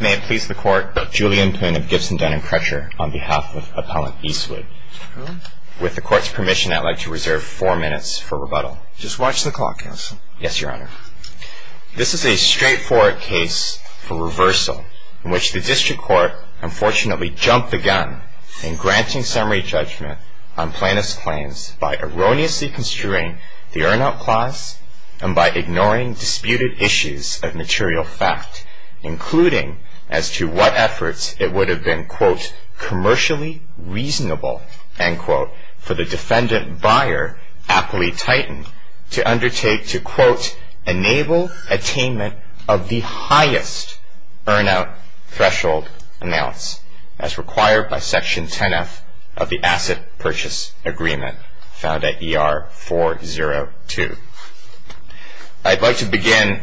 May it please the Court, Julian Poon of Gibson, Dun & Crutcher on behalf of Appellant Eastwood. With the Court's permission, I'd like to reserve four minutes for rebuttal. Just watch the clock, Counsel. Yes, Your Honor. This is a straightforward case for reversal in which the District Court unfortunately jumped the gun in granting summary judgment on plaintiff's claims by erroneously construing the earn-out clause and by ignoring disputed issues of material fact, including as to what efforts it would have been quote, commercially reasonable, end quote, for the defendant buyer, Appley Titan, to undertake to quote, enable attainment of the highest earn-out threshold amounts as required by Section 10F of the Asset Purchase Agreement found at ER 402. I'd like to begin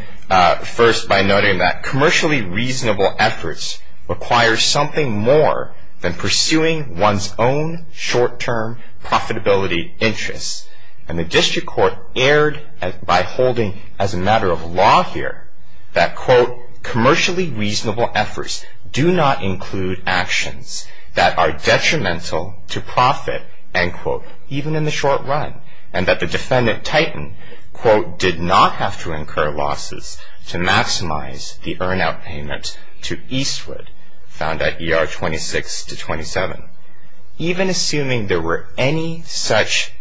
first by noting that commercially reasonable efforts require something more than pursuing one's own short-term profitability interests, and the District Court erred by holding as a matter of law here that quote, commercially reasonable efforts do not include actions that are detrimental to profit, end quote, even in the short run, and that the defendant, Titan, quote, did not have to incur losses to maximize the earn-out payment to Eastwood found at ER 26 to 27. Even assuming there were any such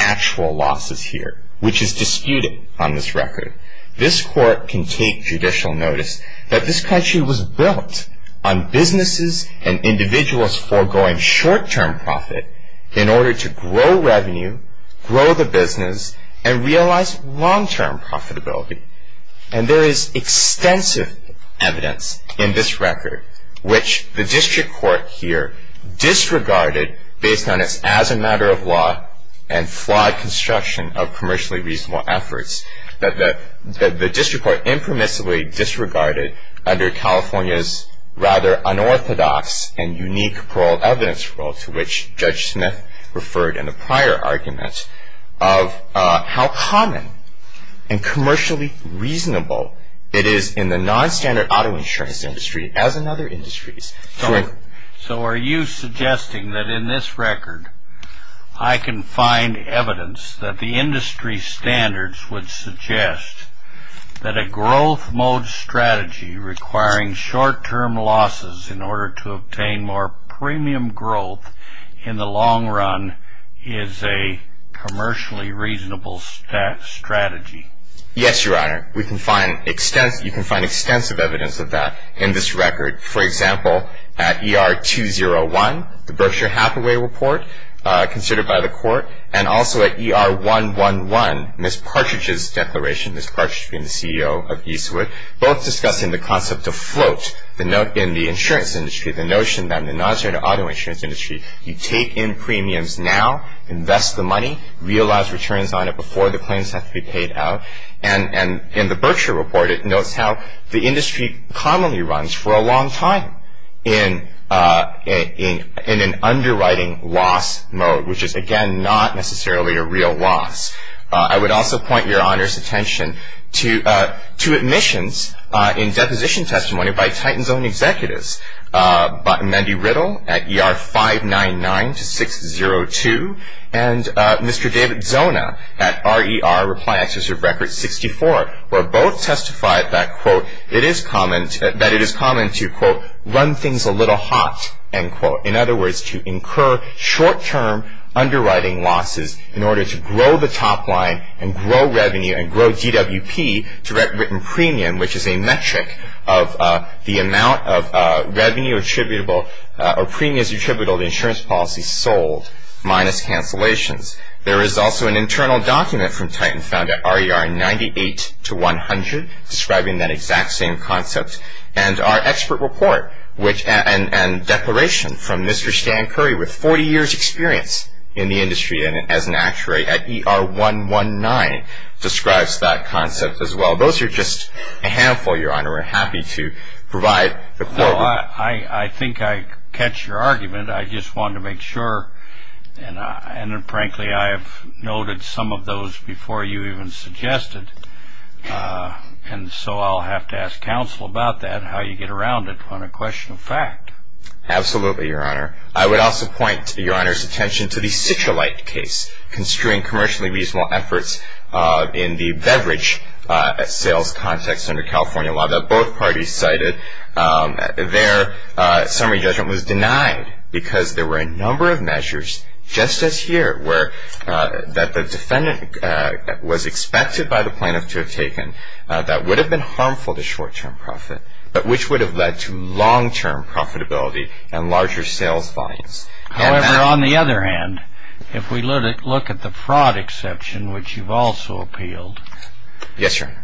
actual losses here, which is disputed on this record, this Court can take judicial notice that this country was built on businesses and individuals foregoing short-term profit in order to grow revenue, grow the business, and realize long-term profitability. And there is extensive evidence in this record which the District Court here disregarded based on its as a matter of law and flawed construction of commercially reasonable efforts that the District Court impermissibly disregarded under California's rather unorthodox and unique paroled evidence rule to which Judge Smith referred in a prior argument of how common and commercially reasonable it is in the non-standard auto insurance industry as in other industries. So are you suggesting that in this record I can find evidence that the industry standards would suggest that a growth mode strategy requiring short-term losses in order to obtain more premium growth in the long run is a commercially reasonable strategy? Yes, Your Honor. You can find extensive evidence of that in this record. For example, at ER 201, the Berkshire Hathaway report considered by the Court, and also at ER 111, Ms. Partridge's declaration, Ms. Partridge being the CEO of Eastwood, both discussing the concept of float in the insurance industry, the notion that in the non-standard auto insurance industry you take in premiums now, invest the money, realize returns on it before the claims have to be paid out. And in the Berkshire report, it notes how the industry commonly runs for a long time in an underwriting loss mode, which is, again, not necessarily a real loss. I would also point Your Honor's attention to admissions in deposition testimony by Titan's own executives, Mendy Riddle at ER 599-602, and Mr. David Zona at RER Reply Excessive Record 64, where both testified that, quote, it is common to, quote, run things a little hot, end quote. In other words, to incur short-term underwriting losses in order to grow the top line and grow revenue and grow DWP to written premium, which is a metric of the amount of revenue attributable or premiums attributable to insurance policies sold minus cancellations. There is also an internal document from Titan found at RER 98-100 describing that exact same concept. And our expert report and declaration from Mr. Stan Curry with 40 years' experience in the industry and as an actuary at ER 119 describes that concept as well. Those are just a handful, Your Honor. We're happy to provide the floor. No, I think I catch your argument. I just wanted to make sure, and frankly, I have noted some of those before you even suggested, and so I'll have to ask counsel about that, how you get around it on a question of fact. Absolutely, Your Honor. I would also point Your Honor's attention to the Citralite case construing commercially reasonable efforts in the beverage sales context under California law that both parties cited. Their summary judgment was denied because there were a number of measures just as here that the defendant was expected by the plaintiff to have taken that would have been harmful to short-term profit, but which would have led to long-term profitability and larger sales volumes. However, on the other hand, if we look at the fraud exception, which you've also appealed. Yes, Your Honor.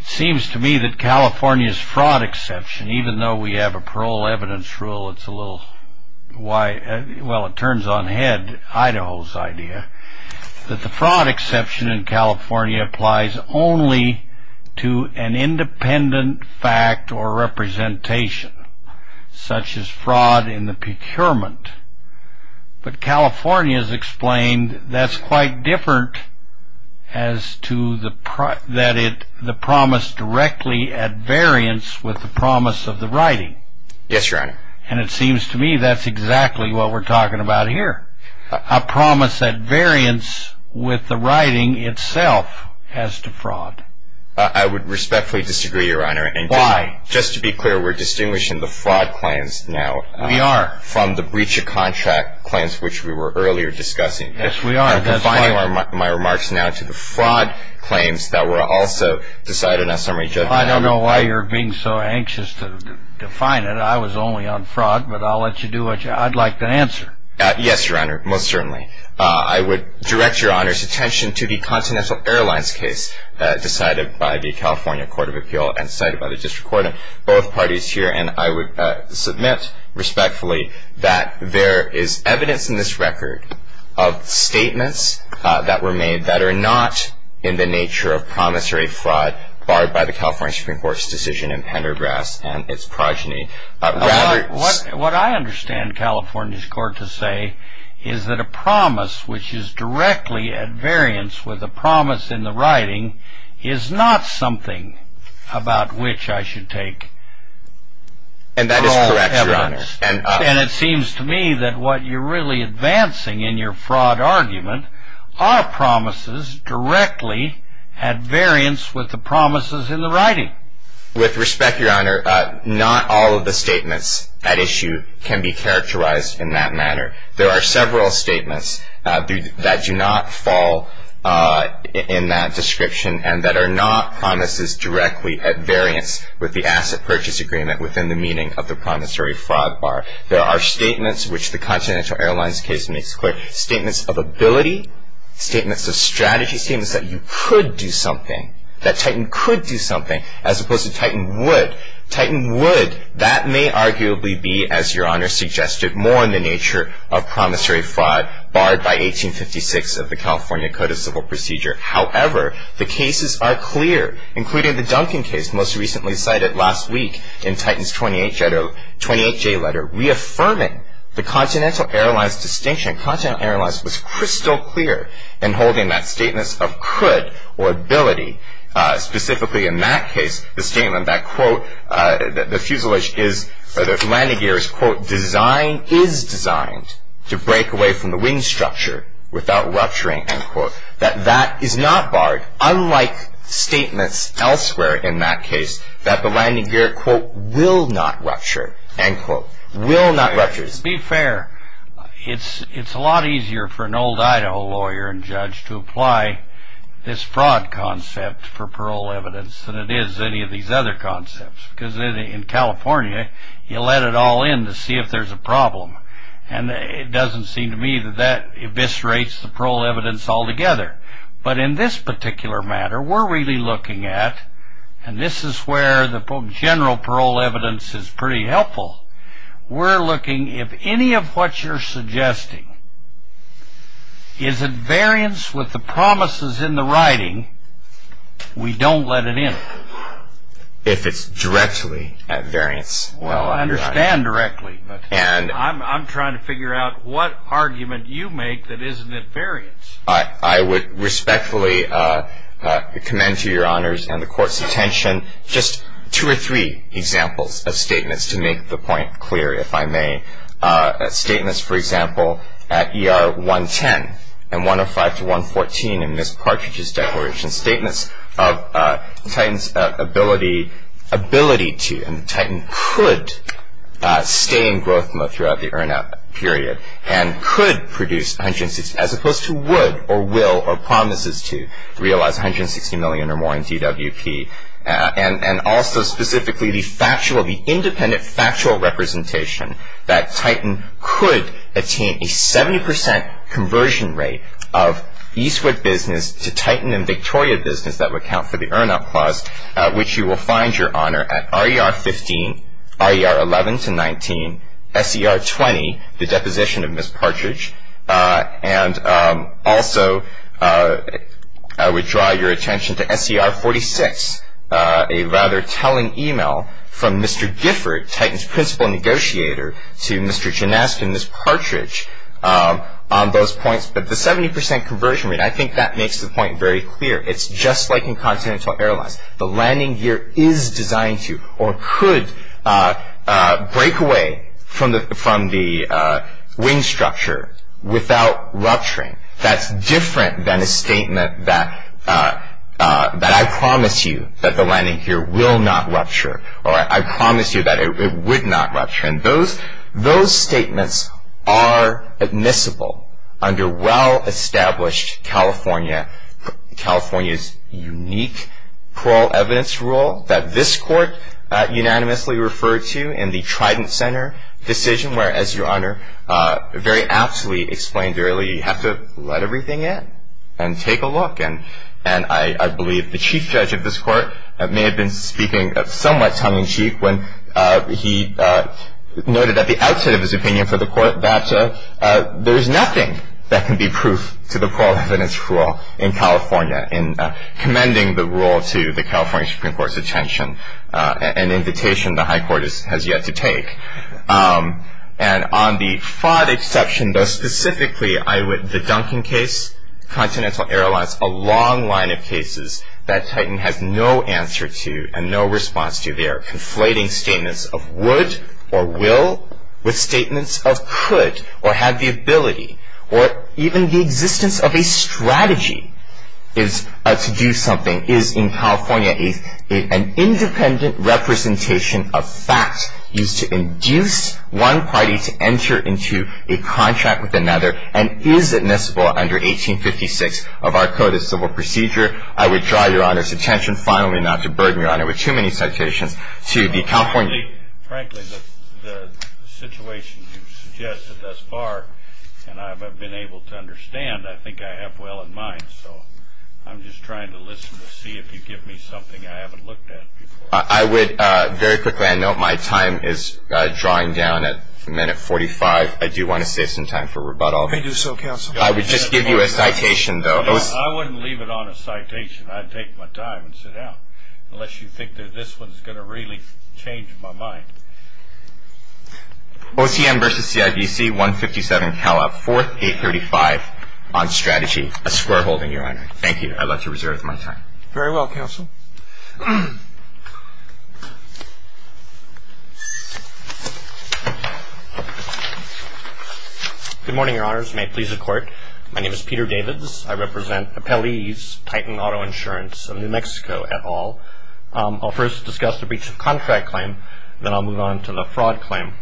It seems to me that California's fraud exception, even though we have a parole evidence rule, it's a little, well, it turns on head Idaho's idea, that the fraud exception in California applies only to an independent fact or representation, such as fraud in the procurement. But California's explained that's quite different as to the promise directly at variance with the promise of the writing. Yes, Your Honor. And it seems to me that's exactly what we're talking about here. A promise at variance with the writing itself as to fraud. I would respectfully disagree, Your Honor. Why? Just to be clear, we're distinguishing the fraud claims now. We are. From the breach of contract claims, which we were earlier discussing. Yes, we are. Defining my remarks now to the fraud claims that were also decided on summary judgment. I don't know why you're being so anxious to define it. I was only on fraud, but I'll let you do what you, I'd like to answer. Yes, Your Honor, most certainly. I would direct Your Honor's attention to the Continental Airlines case decided by the California Court of Appeal and cited by the District Court. Both parties here and I would submit respectfully that there is evidence in this record of statements that were made that are not in the nature of promise or a fraud barred by the California Supreme Court's decision in Pendergrass and its progeny. What I understand California's court to say is that a promise which is directly at variance with a promise in the writing is not something about which I should take all evidence. And that is correct, Your Honor. And it seems to me that what you're really advancing in your fraud argument are promises directly at variance with the promises in the writing. With respect, Your Honor, not all of the statements at issue can be characterized in that manner. There are several statements that do not fall in that description and that are not promises directly at variance with the asset purchase agreement within the meaning of the promissory fraud bar. There are statements which the Continental Airlines case makes clear, statements of ability, statements of strategy, statements that you could do something, that Titan could do something as opposed to Titan would. Titan would. That may arguably be, as Your Honor suggested, more in the nature of promissory fraud barred by 1856 of the California Code of Civil Procedure. However, the cases are clear, including the Duncan case most recently cited last week in Titan's 28J letter reaffirming the Continental Airlines distinction. And Continental Airlines was crystal clear in holding that statement of could or ability, specifically in that case the statement that, quote, the fuselage is, or the landing gear is, quote, designed, is designed to break away from the wing structure without rupturing, end quote. That that is not barred, unlike statements elsewhere in that case that the landing gear, quote, will not rupture, end quote. Will not rupture. To be fair, it's a lot easier for an old Idaho lawyer and judge to apply this fraud concept for parole evidence than it is any of these other concepts. Because in California, you let it all in to see if there's a problem. And it doesn't seem to me that that eviscerates the parole evidence altogether. But in this particular matter, we're really looking at, and this is where the general parole evidence is pretty helpful, we're looking if any of what you're suggesting is at variance with the promises in the writing, we don't let it in. If it's directly at variance. Well, I understand directly, but I'm trying to figure out what argument you make that isn't at variance. I would respectfully commend to your honors and the court's attention just two or three examples of statements to make the point clear, if I may. Statements, for example, at ER 110 and 105 to 114 in Ms. Partridge's declaration. Statements of Titan's ability to, and Titan could, stay in Grothmo throughout the earn-out period. And could produce 160, as opposed to would or will or promises to realize 160 million or more in DWP. And also specifically the factual, the independent factual representation that Titan could attain a 70% conversion rate of Eastwood business to Titan and Victoria business that would count for the earn-out clause, which you will find your honor at RER 15, RER 11 to 19, SER 20, the deposition of Ms. Partridge. And also I would draw your attention to SER 46, a rather telling email from Mr. Gifford, Titan's principal negotiator, to Mr. Ginaski and Ms. Partridge on those points. But the 70% conversion rate, I think that makes the point very clear. It's just like in continental airlines. The landing gear is designed to or could break away from the wing structure without rupturing. That's different than a statement that I promise you that the landing gear will not rupture or I promise you that it would not rupture. And those statements are admissible under well-established California's unique plural evidence rule that this court unanimously referred to in the Trident Center decision where, as your honor very aptly explained earlier, you have to let everything in and take a look. And I believe the chief judge of this court may have been speaking somewhat tongue-in-cheek when he noted at the outset of his opinion for the court that there is nothing that can be proof to the plural evidence rule in California in commending the rule to the California Supreme Court's attention, an invitation the high court has yet to take. And on the fraud exception, specifically the Duncan case, continental airlines, a long line of cases that Titan has no answer to and no response to. They are conflating statements of would or will with statements of could or had the ability or even the existence of a strategy to do something is in California an independent representation of facts used to induce one party to enter into a contract with another and is admissible under 1856 of our Code of Civil Procedure. I would draw your honor's attention finally not to burden your honor with too many citations to the California... Frankly, the situation you've suggested thus far, and I've been able to understand, I think I have well in mind. So I'm just trying to listen to see if you give me something I haven't looked at before. I would very quickly note my time is drawing down at minute 45. I do want to save some time for rebuttal. I do so, counsel. I would just give you a citation, though. I wouldn't leave it on a citation. I'd take my time and sit down unless you think that this one's going to really change my mind. OCM versus CIBC, 157 Cala, 4th, 835 on strategy. A square holding, your honor. Thank you. I'd love to reserve my time. Very well, counsel. Good morning, your honors. May it please the Court. My name is Peter Davids. I represent Appellee's Titan Auto Insurance of New Mexico et al. I'll first discuss the breach of contract claim, then I'll move on to the fraud claim.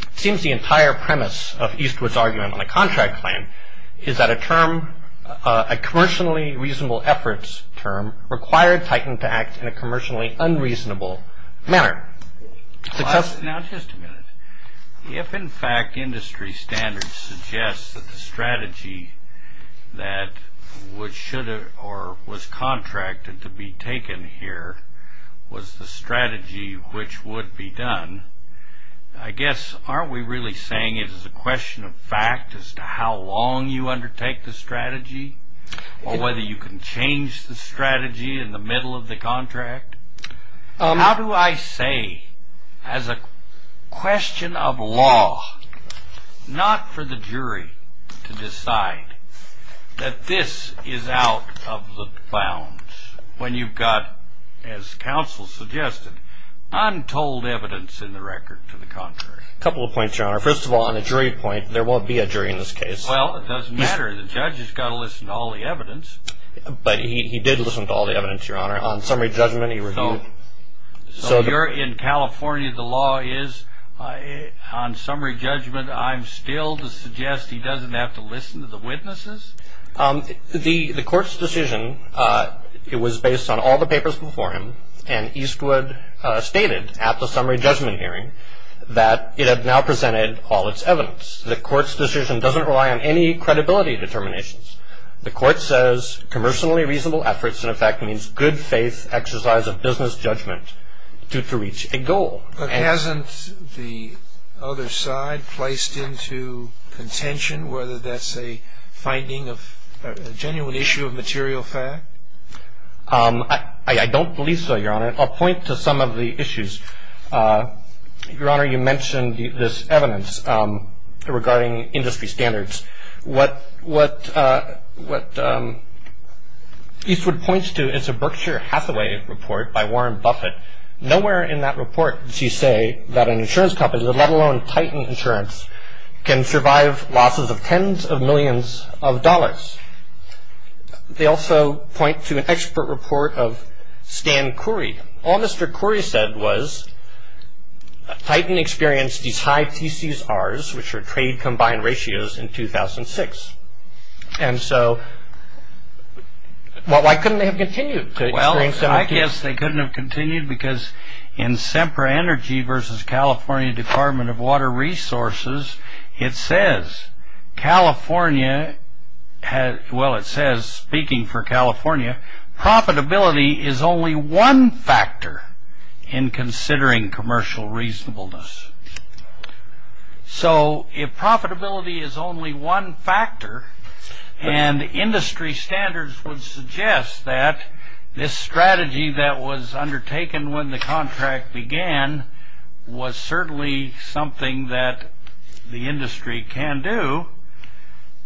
It seems the entire premise of Eastwood's argument on a contract claim is that a term, a commercially reasonable efforts term required Titan to act in a commercially unreasonable manner. Now, just a minute. If, in fact, industry standards suggest that the strategy that should or was contracted to be taken here was the strategy which would be done, I guess aren't we really saying it is a question of fact as to how long you undertake the strategy or whether you can change the strategy in the middle of the contract? How do I say as a question of law not for the jury to decide that this is out of the bounds when you've got, as counsel suggested, untold evidence in the record to the contrary? A couple of points, your honor. First of all, on a jury point, there won't be a jury in this case. Well, it doesn't matter. The judge has got to listen to all the evidence. But he did listen to all the evidence, your honor. On summary judgment, he reviewed. So you're in California. The law is on summary judgment. I'm still to suggest he doesn't have to listen to the witnesses? The court's decision, it was based on all the papers before him, and Eastwood stated at the summary judgment hearing that it had now presented all its evidence. The court's decision doesn't rely on any credibility determinations. The court says commercially reasonable efforts in effect means good faith exercise of business judgment to reach a goal. But hasn't the other side placed into contention whether that's a finding of a genuine issue of material fact? I don't believe so, your honor. I'll point to some of the issues. Your honor, you mentioned this evidence regarding industry standards. What Eastwood points to is a Berkshire Hathaway report by Warren Buffett. Nowhere in that report does he say that an insurance company, let alone Titan Insurance, can survive losses of tens of millions of dollars. They also point to an expert report of Stan Currie. All Mr. Currie said was Titan experienced these high TCSRs, which are trade combined ratios, in 2006. And so why couldn't they have continued to experience them? Well, I guess they couldn't have continued because in SEMPRA Energy versus California Department of Water Resources, it says speaking for California, profitability is only one factor in considering commercial reasonableness. So if profitability is only one factor, and industry standards would suggest that this strategy that was undertaken when the contract began was certainly something that the industry can do,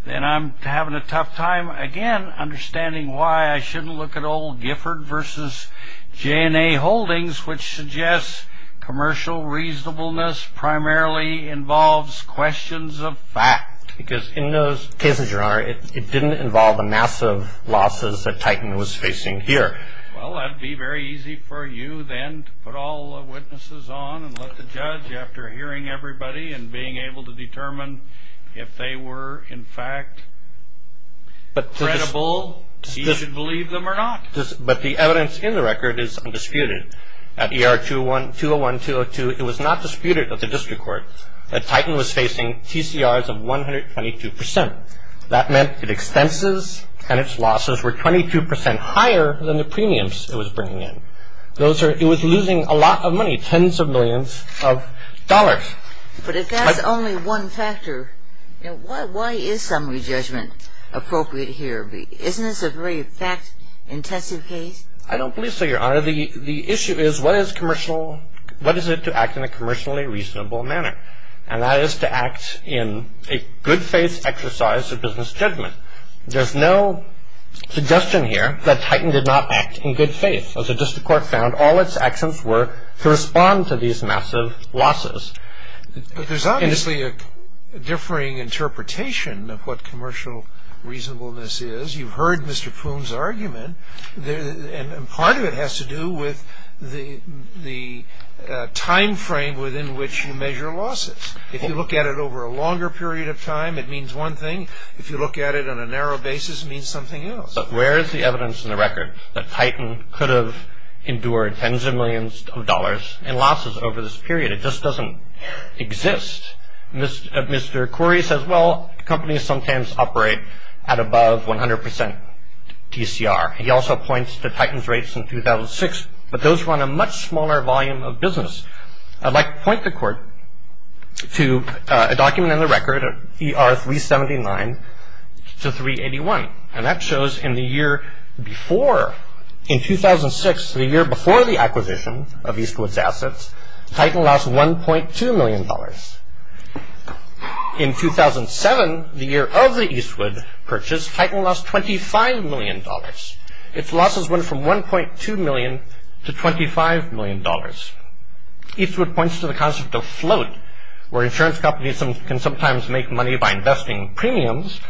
then I'm having a tough time, again, understanding why I shouldn't look at old Gifford versus J&A Holdings, which suggests commercial reasonableness primarily involves questions of fact. Because in those cases, your honor, it didn't involve the massive losses that Titan was facing here. Well, that would be very easy for you then to put all the witnesses on and let the judge, after hearing everybody and being able to determine if they were, in fact, credible, see if you believe them or not. But the evidence in the record is undisputed. At ER 201-202, it was not disputed at the district court that Titan was facing TCRs of 122%. That meant its expenses and its losses were 22% higher than the premiums it was bringing in. It was losing a lot of money, tens of millions of dollars. But if that's only one factor, why is summary judgment appropriate here? Isn't this a very fact-intensive case? I don't believe so, your honor. The issue is what is it to act in a commercially reasonable manner? And that is to act in a good-faith exercise of business judgment. There's no suggestion here that Titan did not act in good faith. As the district court found, all its actions were to respond to these massive losses. But there's obviously a differing interpretation of what commercial reasonableness is. As you heard Mr. Poon's argument, and part of it has to do with the time frame within which you measure losses. If you look at it over a longer period of time, it means one thing. If you look at it on a narrow basis, it means something else. But where is the evidence in the record that Titan could have endured tens of millions of dollars in losses over this period? It just doesn't exist. Mr. Corey says, well, companies sometimes operate at above 100% TCR. He also points to Titan's rates in 2006, but those were on a much smaller volume of business. I'd like to point the court to a document in the record, ER 379 to 381. And that shows in the year before, in 2006, the year before the acquisition of Eastwood's assets, Titan lost $1.2 million. In 2007, the year of the Eastwood purchase, Titan lost $25 million. Its losses went from $1.2 million to $25 million. Eastwood points to the concept of float, where insurance companies can sometimes make money by investing premiums.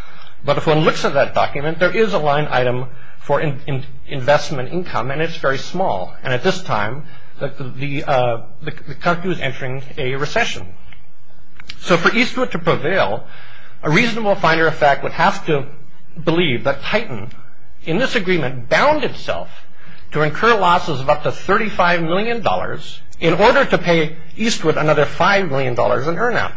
But if one looks at that document, there is a line item for investment income, and it's very small. And at this time, the country was entering a recession. So for Eastwood to prevail, a reasonable finder of fact would have to believe that Titan, in this agreement, bound itself to incur losses of up to $35 million in order to pay Eastwood another $5 million in earn out.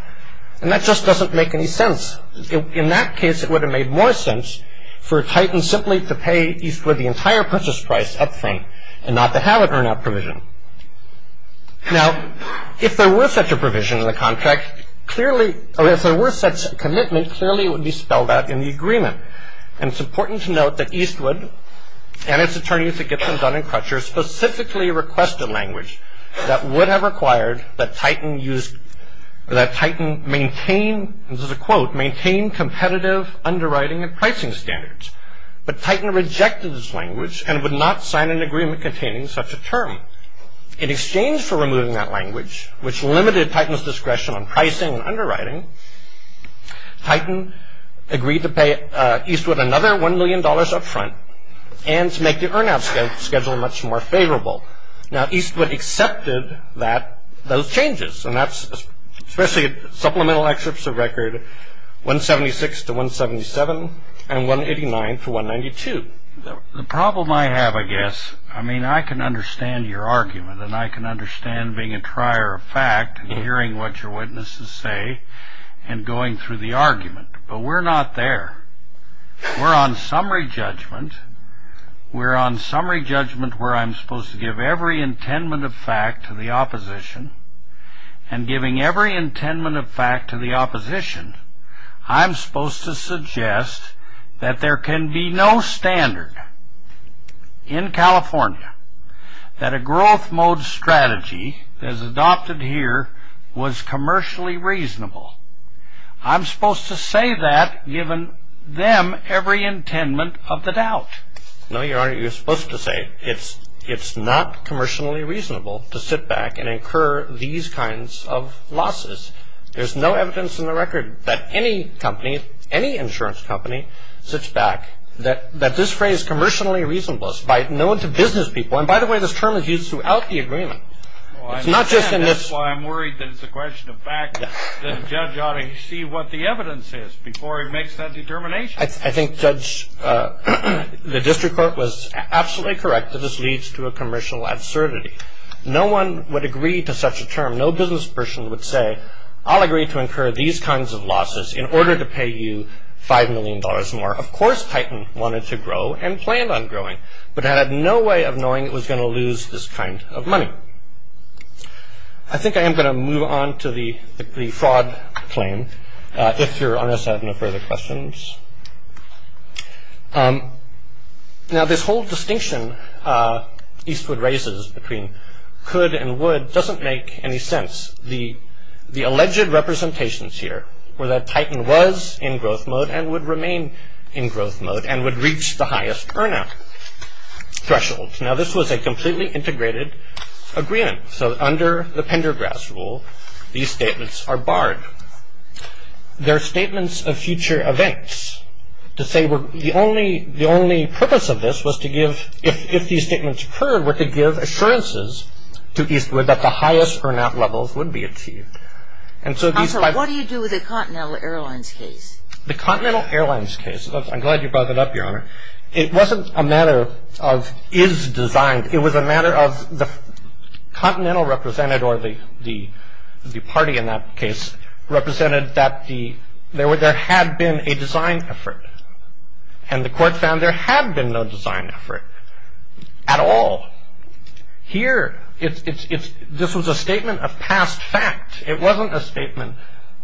And that just doesn't make any sense. In that case, it would have made more sense for Titan simply to pay Eastwood the entire purchase price up front and not to have an earn out provision. Now, if there were such a provision in the contract, clearly, or if there were such a commitment, clearly it would be spelled out in the agreement. And it's important to note that Eastwood and its attorneys at Gibson, Dun & Crutcher, specifically requested language that would have required that Titan maintain, this is a quote, maintain competitive underwriting and pricing standards. But Titan rejected this language and would not sign an agreement containing such a term. In exchange for removing that language, which limited Titan's discretion on pricing and underwriting, Titan agreed to pay Eastwood another $1 million up front and to make the earn out schedule much more favorable. Now, Eastwood accepted that, those changes. And that's especially supplemental excerpts of record 176 to 177 and 189 to 192. The problem I have, I guess, I mean, I can understand your argument and I can understand being a trier of fact and hearing what your witnesses say and going through the argument. But we're not there. We're on summary judgment. We're on summary judgment where I'm supposed to give every intent of fact to the opposition. And giving every intent of fact to the opposition, I'm supposed to suggest that there can be no standard in California that a growth mode strategy that is adopted here was commercially reasonable. I'm supposed to say that given them every intent of the doubt. No, Your Honor, you're supposed to say it's not commercially reasonable to sit back and incur these kinds of losses. There's no evidence in the record that any company, any insurance company sits back, that this phrase commercially reasonable is known to business people. And by the way, this term is used throughout the agreement. It's not just in this. Well, I understand. That's why I'm worried that it's a question of fact. The judge ought to see what the evidence is before he makes that determination. I think, Judge, the district court was absolutely correct that this leads to a commercial absurdity. No one would agree to such a term. No business person would say, I'll agree to incur these kinds of losses in order to pay you $5 million more. Of course, Titan wanted to grow and planned on growing, but it had no way of knowing it was going to lose this kind of money. I think I am going to move on to the fraud claim, if Your Honor has no further questions. Now, this whole distinction Eastwood raises between could and would doesn't make any sense. The alleged representations here were that Titan was in growth mode and would remain in growth mode and would reach the highest earn out threshold. Now, this was a completely integrated agreement. So under the Pendergrass rule, these statements are barred. They're statements of future events. To say the only purpose of this was to give, if these statements occurred, were to give assurances to Eastwood that the highest earn out levels would be achieved. Also, what do you do with the Continental Airlines case? The Continental Airlines case, I'm glad you brought that up, Your Honor. It wasn't a matter of is designed. It was a matter of the Continental represented, or the party in that case, represented that there had been a design effort. And the court found there had been no design effort at all. Here, this was a statement of past fact. It wasn't a statement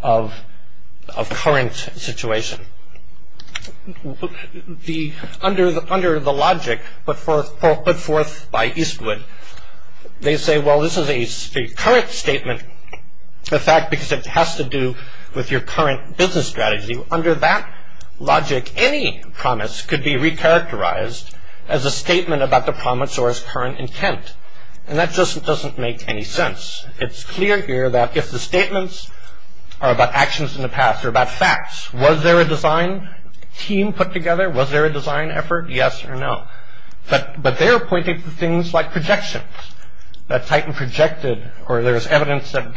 of current situation. Under the logic put forth by Eastwood, they say, well, this is a current statement, in fact, because it has to do with your current business strategy. Under that logic, any promise could be recharacterized as a statement about the promise or its current intent. And that just doesn't make any sense. It's clear here that if the statements are about actions in the past or about facts, was there a design team put together? Was there a design effort? Yes or no. But they are pointing to things like projections. That Titan projected, or there's evidence that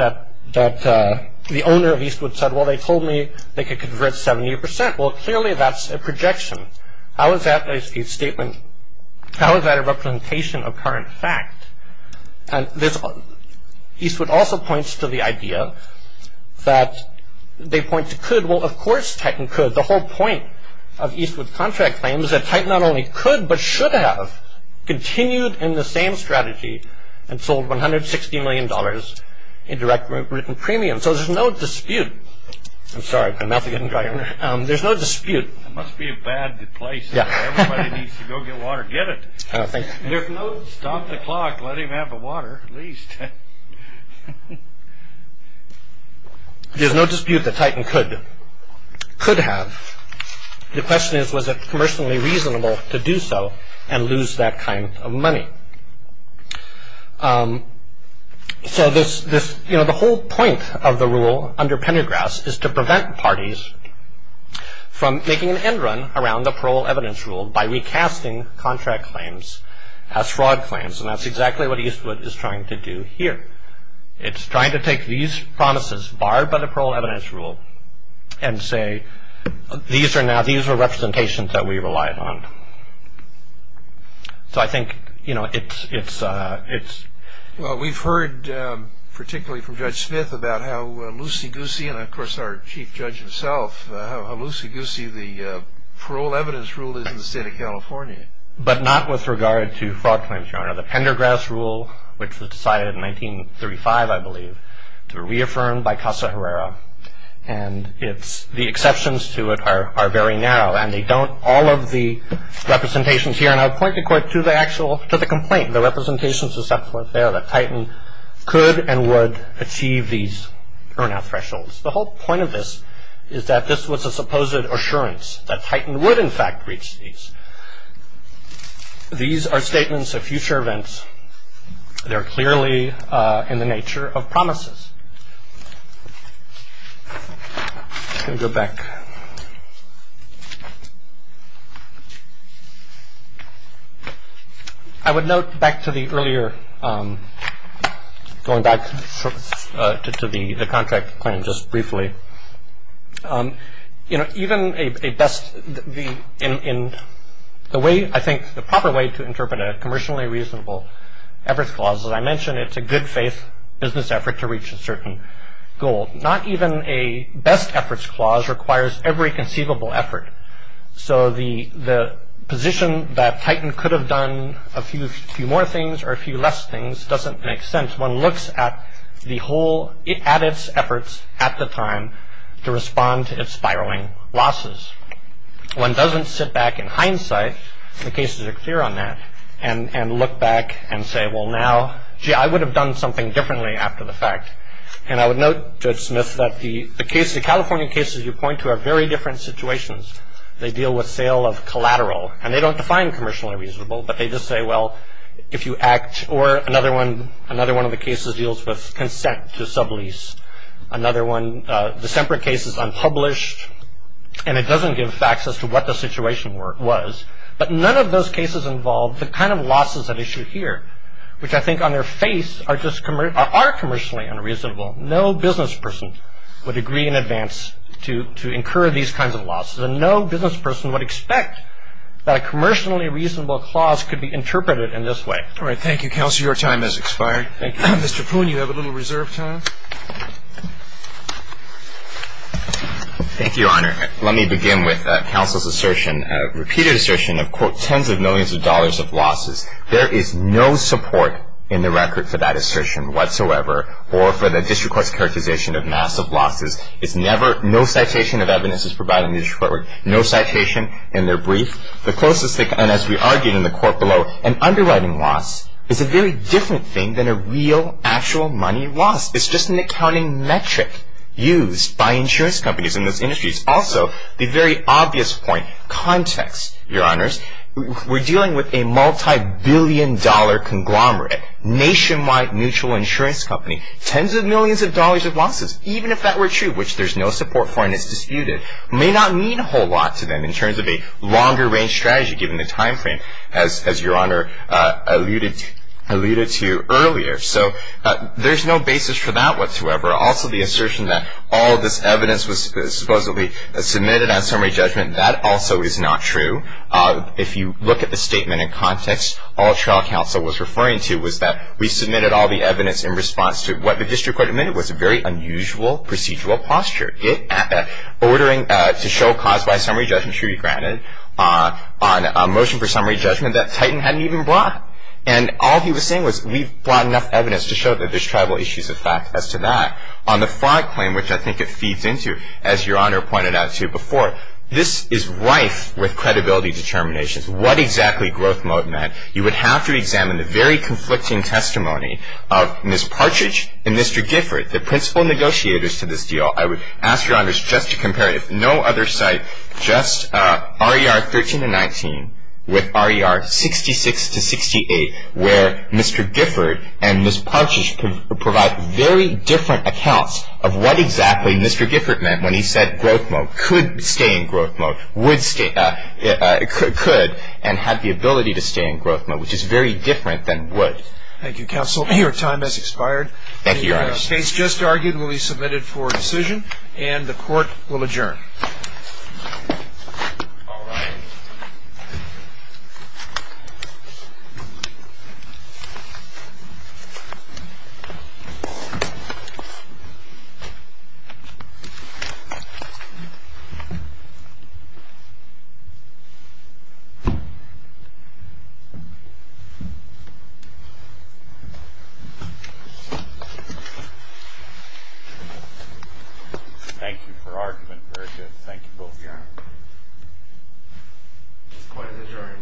the owner of Eastwood said, well, they told me they could convert 70%. Well, clearly, that's a projection. How is that a statement? How is that a representation of current fact? And Eastwood also points to the idea that they point to could. Well, of course, Titan could. The whole point of Eastwood's contract claim is that Titan not only could, but should have continued in the same strategy and sold $160 million in direct written premium. So there's no dispute. I'm sorry, my mouth is getting dry. There's no dispute. It must be a bad place. Everybody needs to go get water. Get it. Stop the clock. Let him have the water at least. There's no dispute that Titan could have. The question is, was it commercially reasonable to do so and lose that kind of money? So the whole point of the rule under Pendergrass is to prevent parties from making an end run around the parole evidence rule by recasting contract claims as fraud claims, and that's exactly what Eastwood is trying to do here. It's trying to take these promises barred by the parole evidence rule and say these are representations that we relied on. So I think it's – Well, we've heard particularly from Judge Smith about how loosey-goosey, and of course our chief judge himself, how loosey-goosey the parole evidence rule is in the state of California. But not with regard to fraud claims, Your Honor. The Pendergrass rule, which was decided in 1935, I believe, to be reaffirmed by Casa Herrera, and the exceptions to it are very narrow, and they don't – all of the representations here, and I'll point the court to the complaint, the representations that Titan could and would achieve these burnout thresholds. The whole point of this is that this was a supposed assurance that Titan would, in fact, reach these. These are statements of future events. They're clearly in the nature of promises. I'm just going to go back. I would note back to the earlier – going back to the contract claim just briefly. You know, even a best – in the way – I think the proper way to interpret a commercially reasonable efforts clause, as I mentioned, it's a good faith business effort to reach a certain goal. Not even a best efforts clause requires every conceivable effort. So the position that Titan could have done a few more things or a few less things doesn't make sense. One looks at the whole – at its efforts at the time to respond to its spiraling losses. One doesn't sit back in hindsight – the cases are clear on that – and look back and say, well, now, gee, I would have done something differently after the fact. And I would note, Judge Smith, that the California cases you point to are very different situations. They deal with sale of collateral, and they don't define commercially reasonable, but they just say, well, if you act – or another one of the cases deals with consent to sublease. Another one – the Semper case is unpublished, and it doesn't give facts as to what the situation was. But none of those cases involve the kind of losses at issue here, which I think on their face are commercially unreasonable. No business person would agree in advance to incur these kinds of losses, and no business person would expect that a commercially reasonable clause could be interpreted in this way. All right. Thank you, Counselor. Your time has expired. Thank you. Mr. Poon, you have a little reserve time. Thank you, Your Honor. Let me begin with Counsel's assertion, repeated assertion of, quote, tens of millions of dollars of losses. There is no support in the record for that assertion whatsoever or for the district court's characterization of massive losses. It's never – no citation of evidence is provided in the district court. No citation in their brief. The closest they can – and as we argued in the court below, an underwriting loss is a very different thing than a real, actual money loss. It's just an accounting metric used by insurance companies in those industries. Also, the very obvious point, context, Your Honors. We're dealing with a multibillion-dollar conglomerate, nationwide mutual insurance company. Tens of millions of dollars of losses, even if that were true, which there's no support for and is disputed, may not mean a whole lot to them in terms of a longer-range strategy given the timeframe, as Your Honor alluded to earlier. So there's no basis for that whatsoever. Also, the assertion that all of this evidence was supposedly submitted on summary judgment, that also is not true. If you look at the statement in context, all trial counsel was referring to was that we submitted all the evidence in response to what the district court admitted was a very unusual procedural posture, ordering to show cause by summary judgment should be granted on a motion for summary judgment that Titan hadn't even brought. And all he was saying was we've brought enough evidence to show that there's tribal issues of fact as to that. On the fraud claim, which I think it feeds into, as Your Honor pointed out to you before, this is rife with credibility determinations. What exactly growth mode meant, you would have to examine the very conflicting testimony of Ms. Partridge and Mr. Gifford, the principal negotiators to this deal. I would ask Your Honors just to compare it. There is no other site, just RER 13 and 19 with RER 66 to 68, where Mr. Gifford and Ms. Partridge provide very different accounts of what exactly Mr. Gifford meant when he said growth mode could stay in growth mode, would stay, could, and had the ability to stay in growth mode, which is very different than would. Thank you, counsel. Your time has expired. Thank you, Your Honors. The case just argued will be submitted for decision, and the Court will adjourn. Thank you for arguing. Very good. Thank you both, Your Honor. The Court is adjourned. Thank you.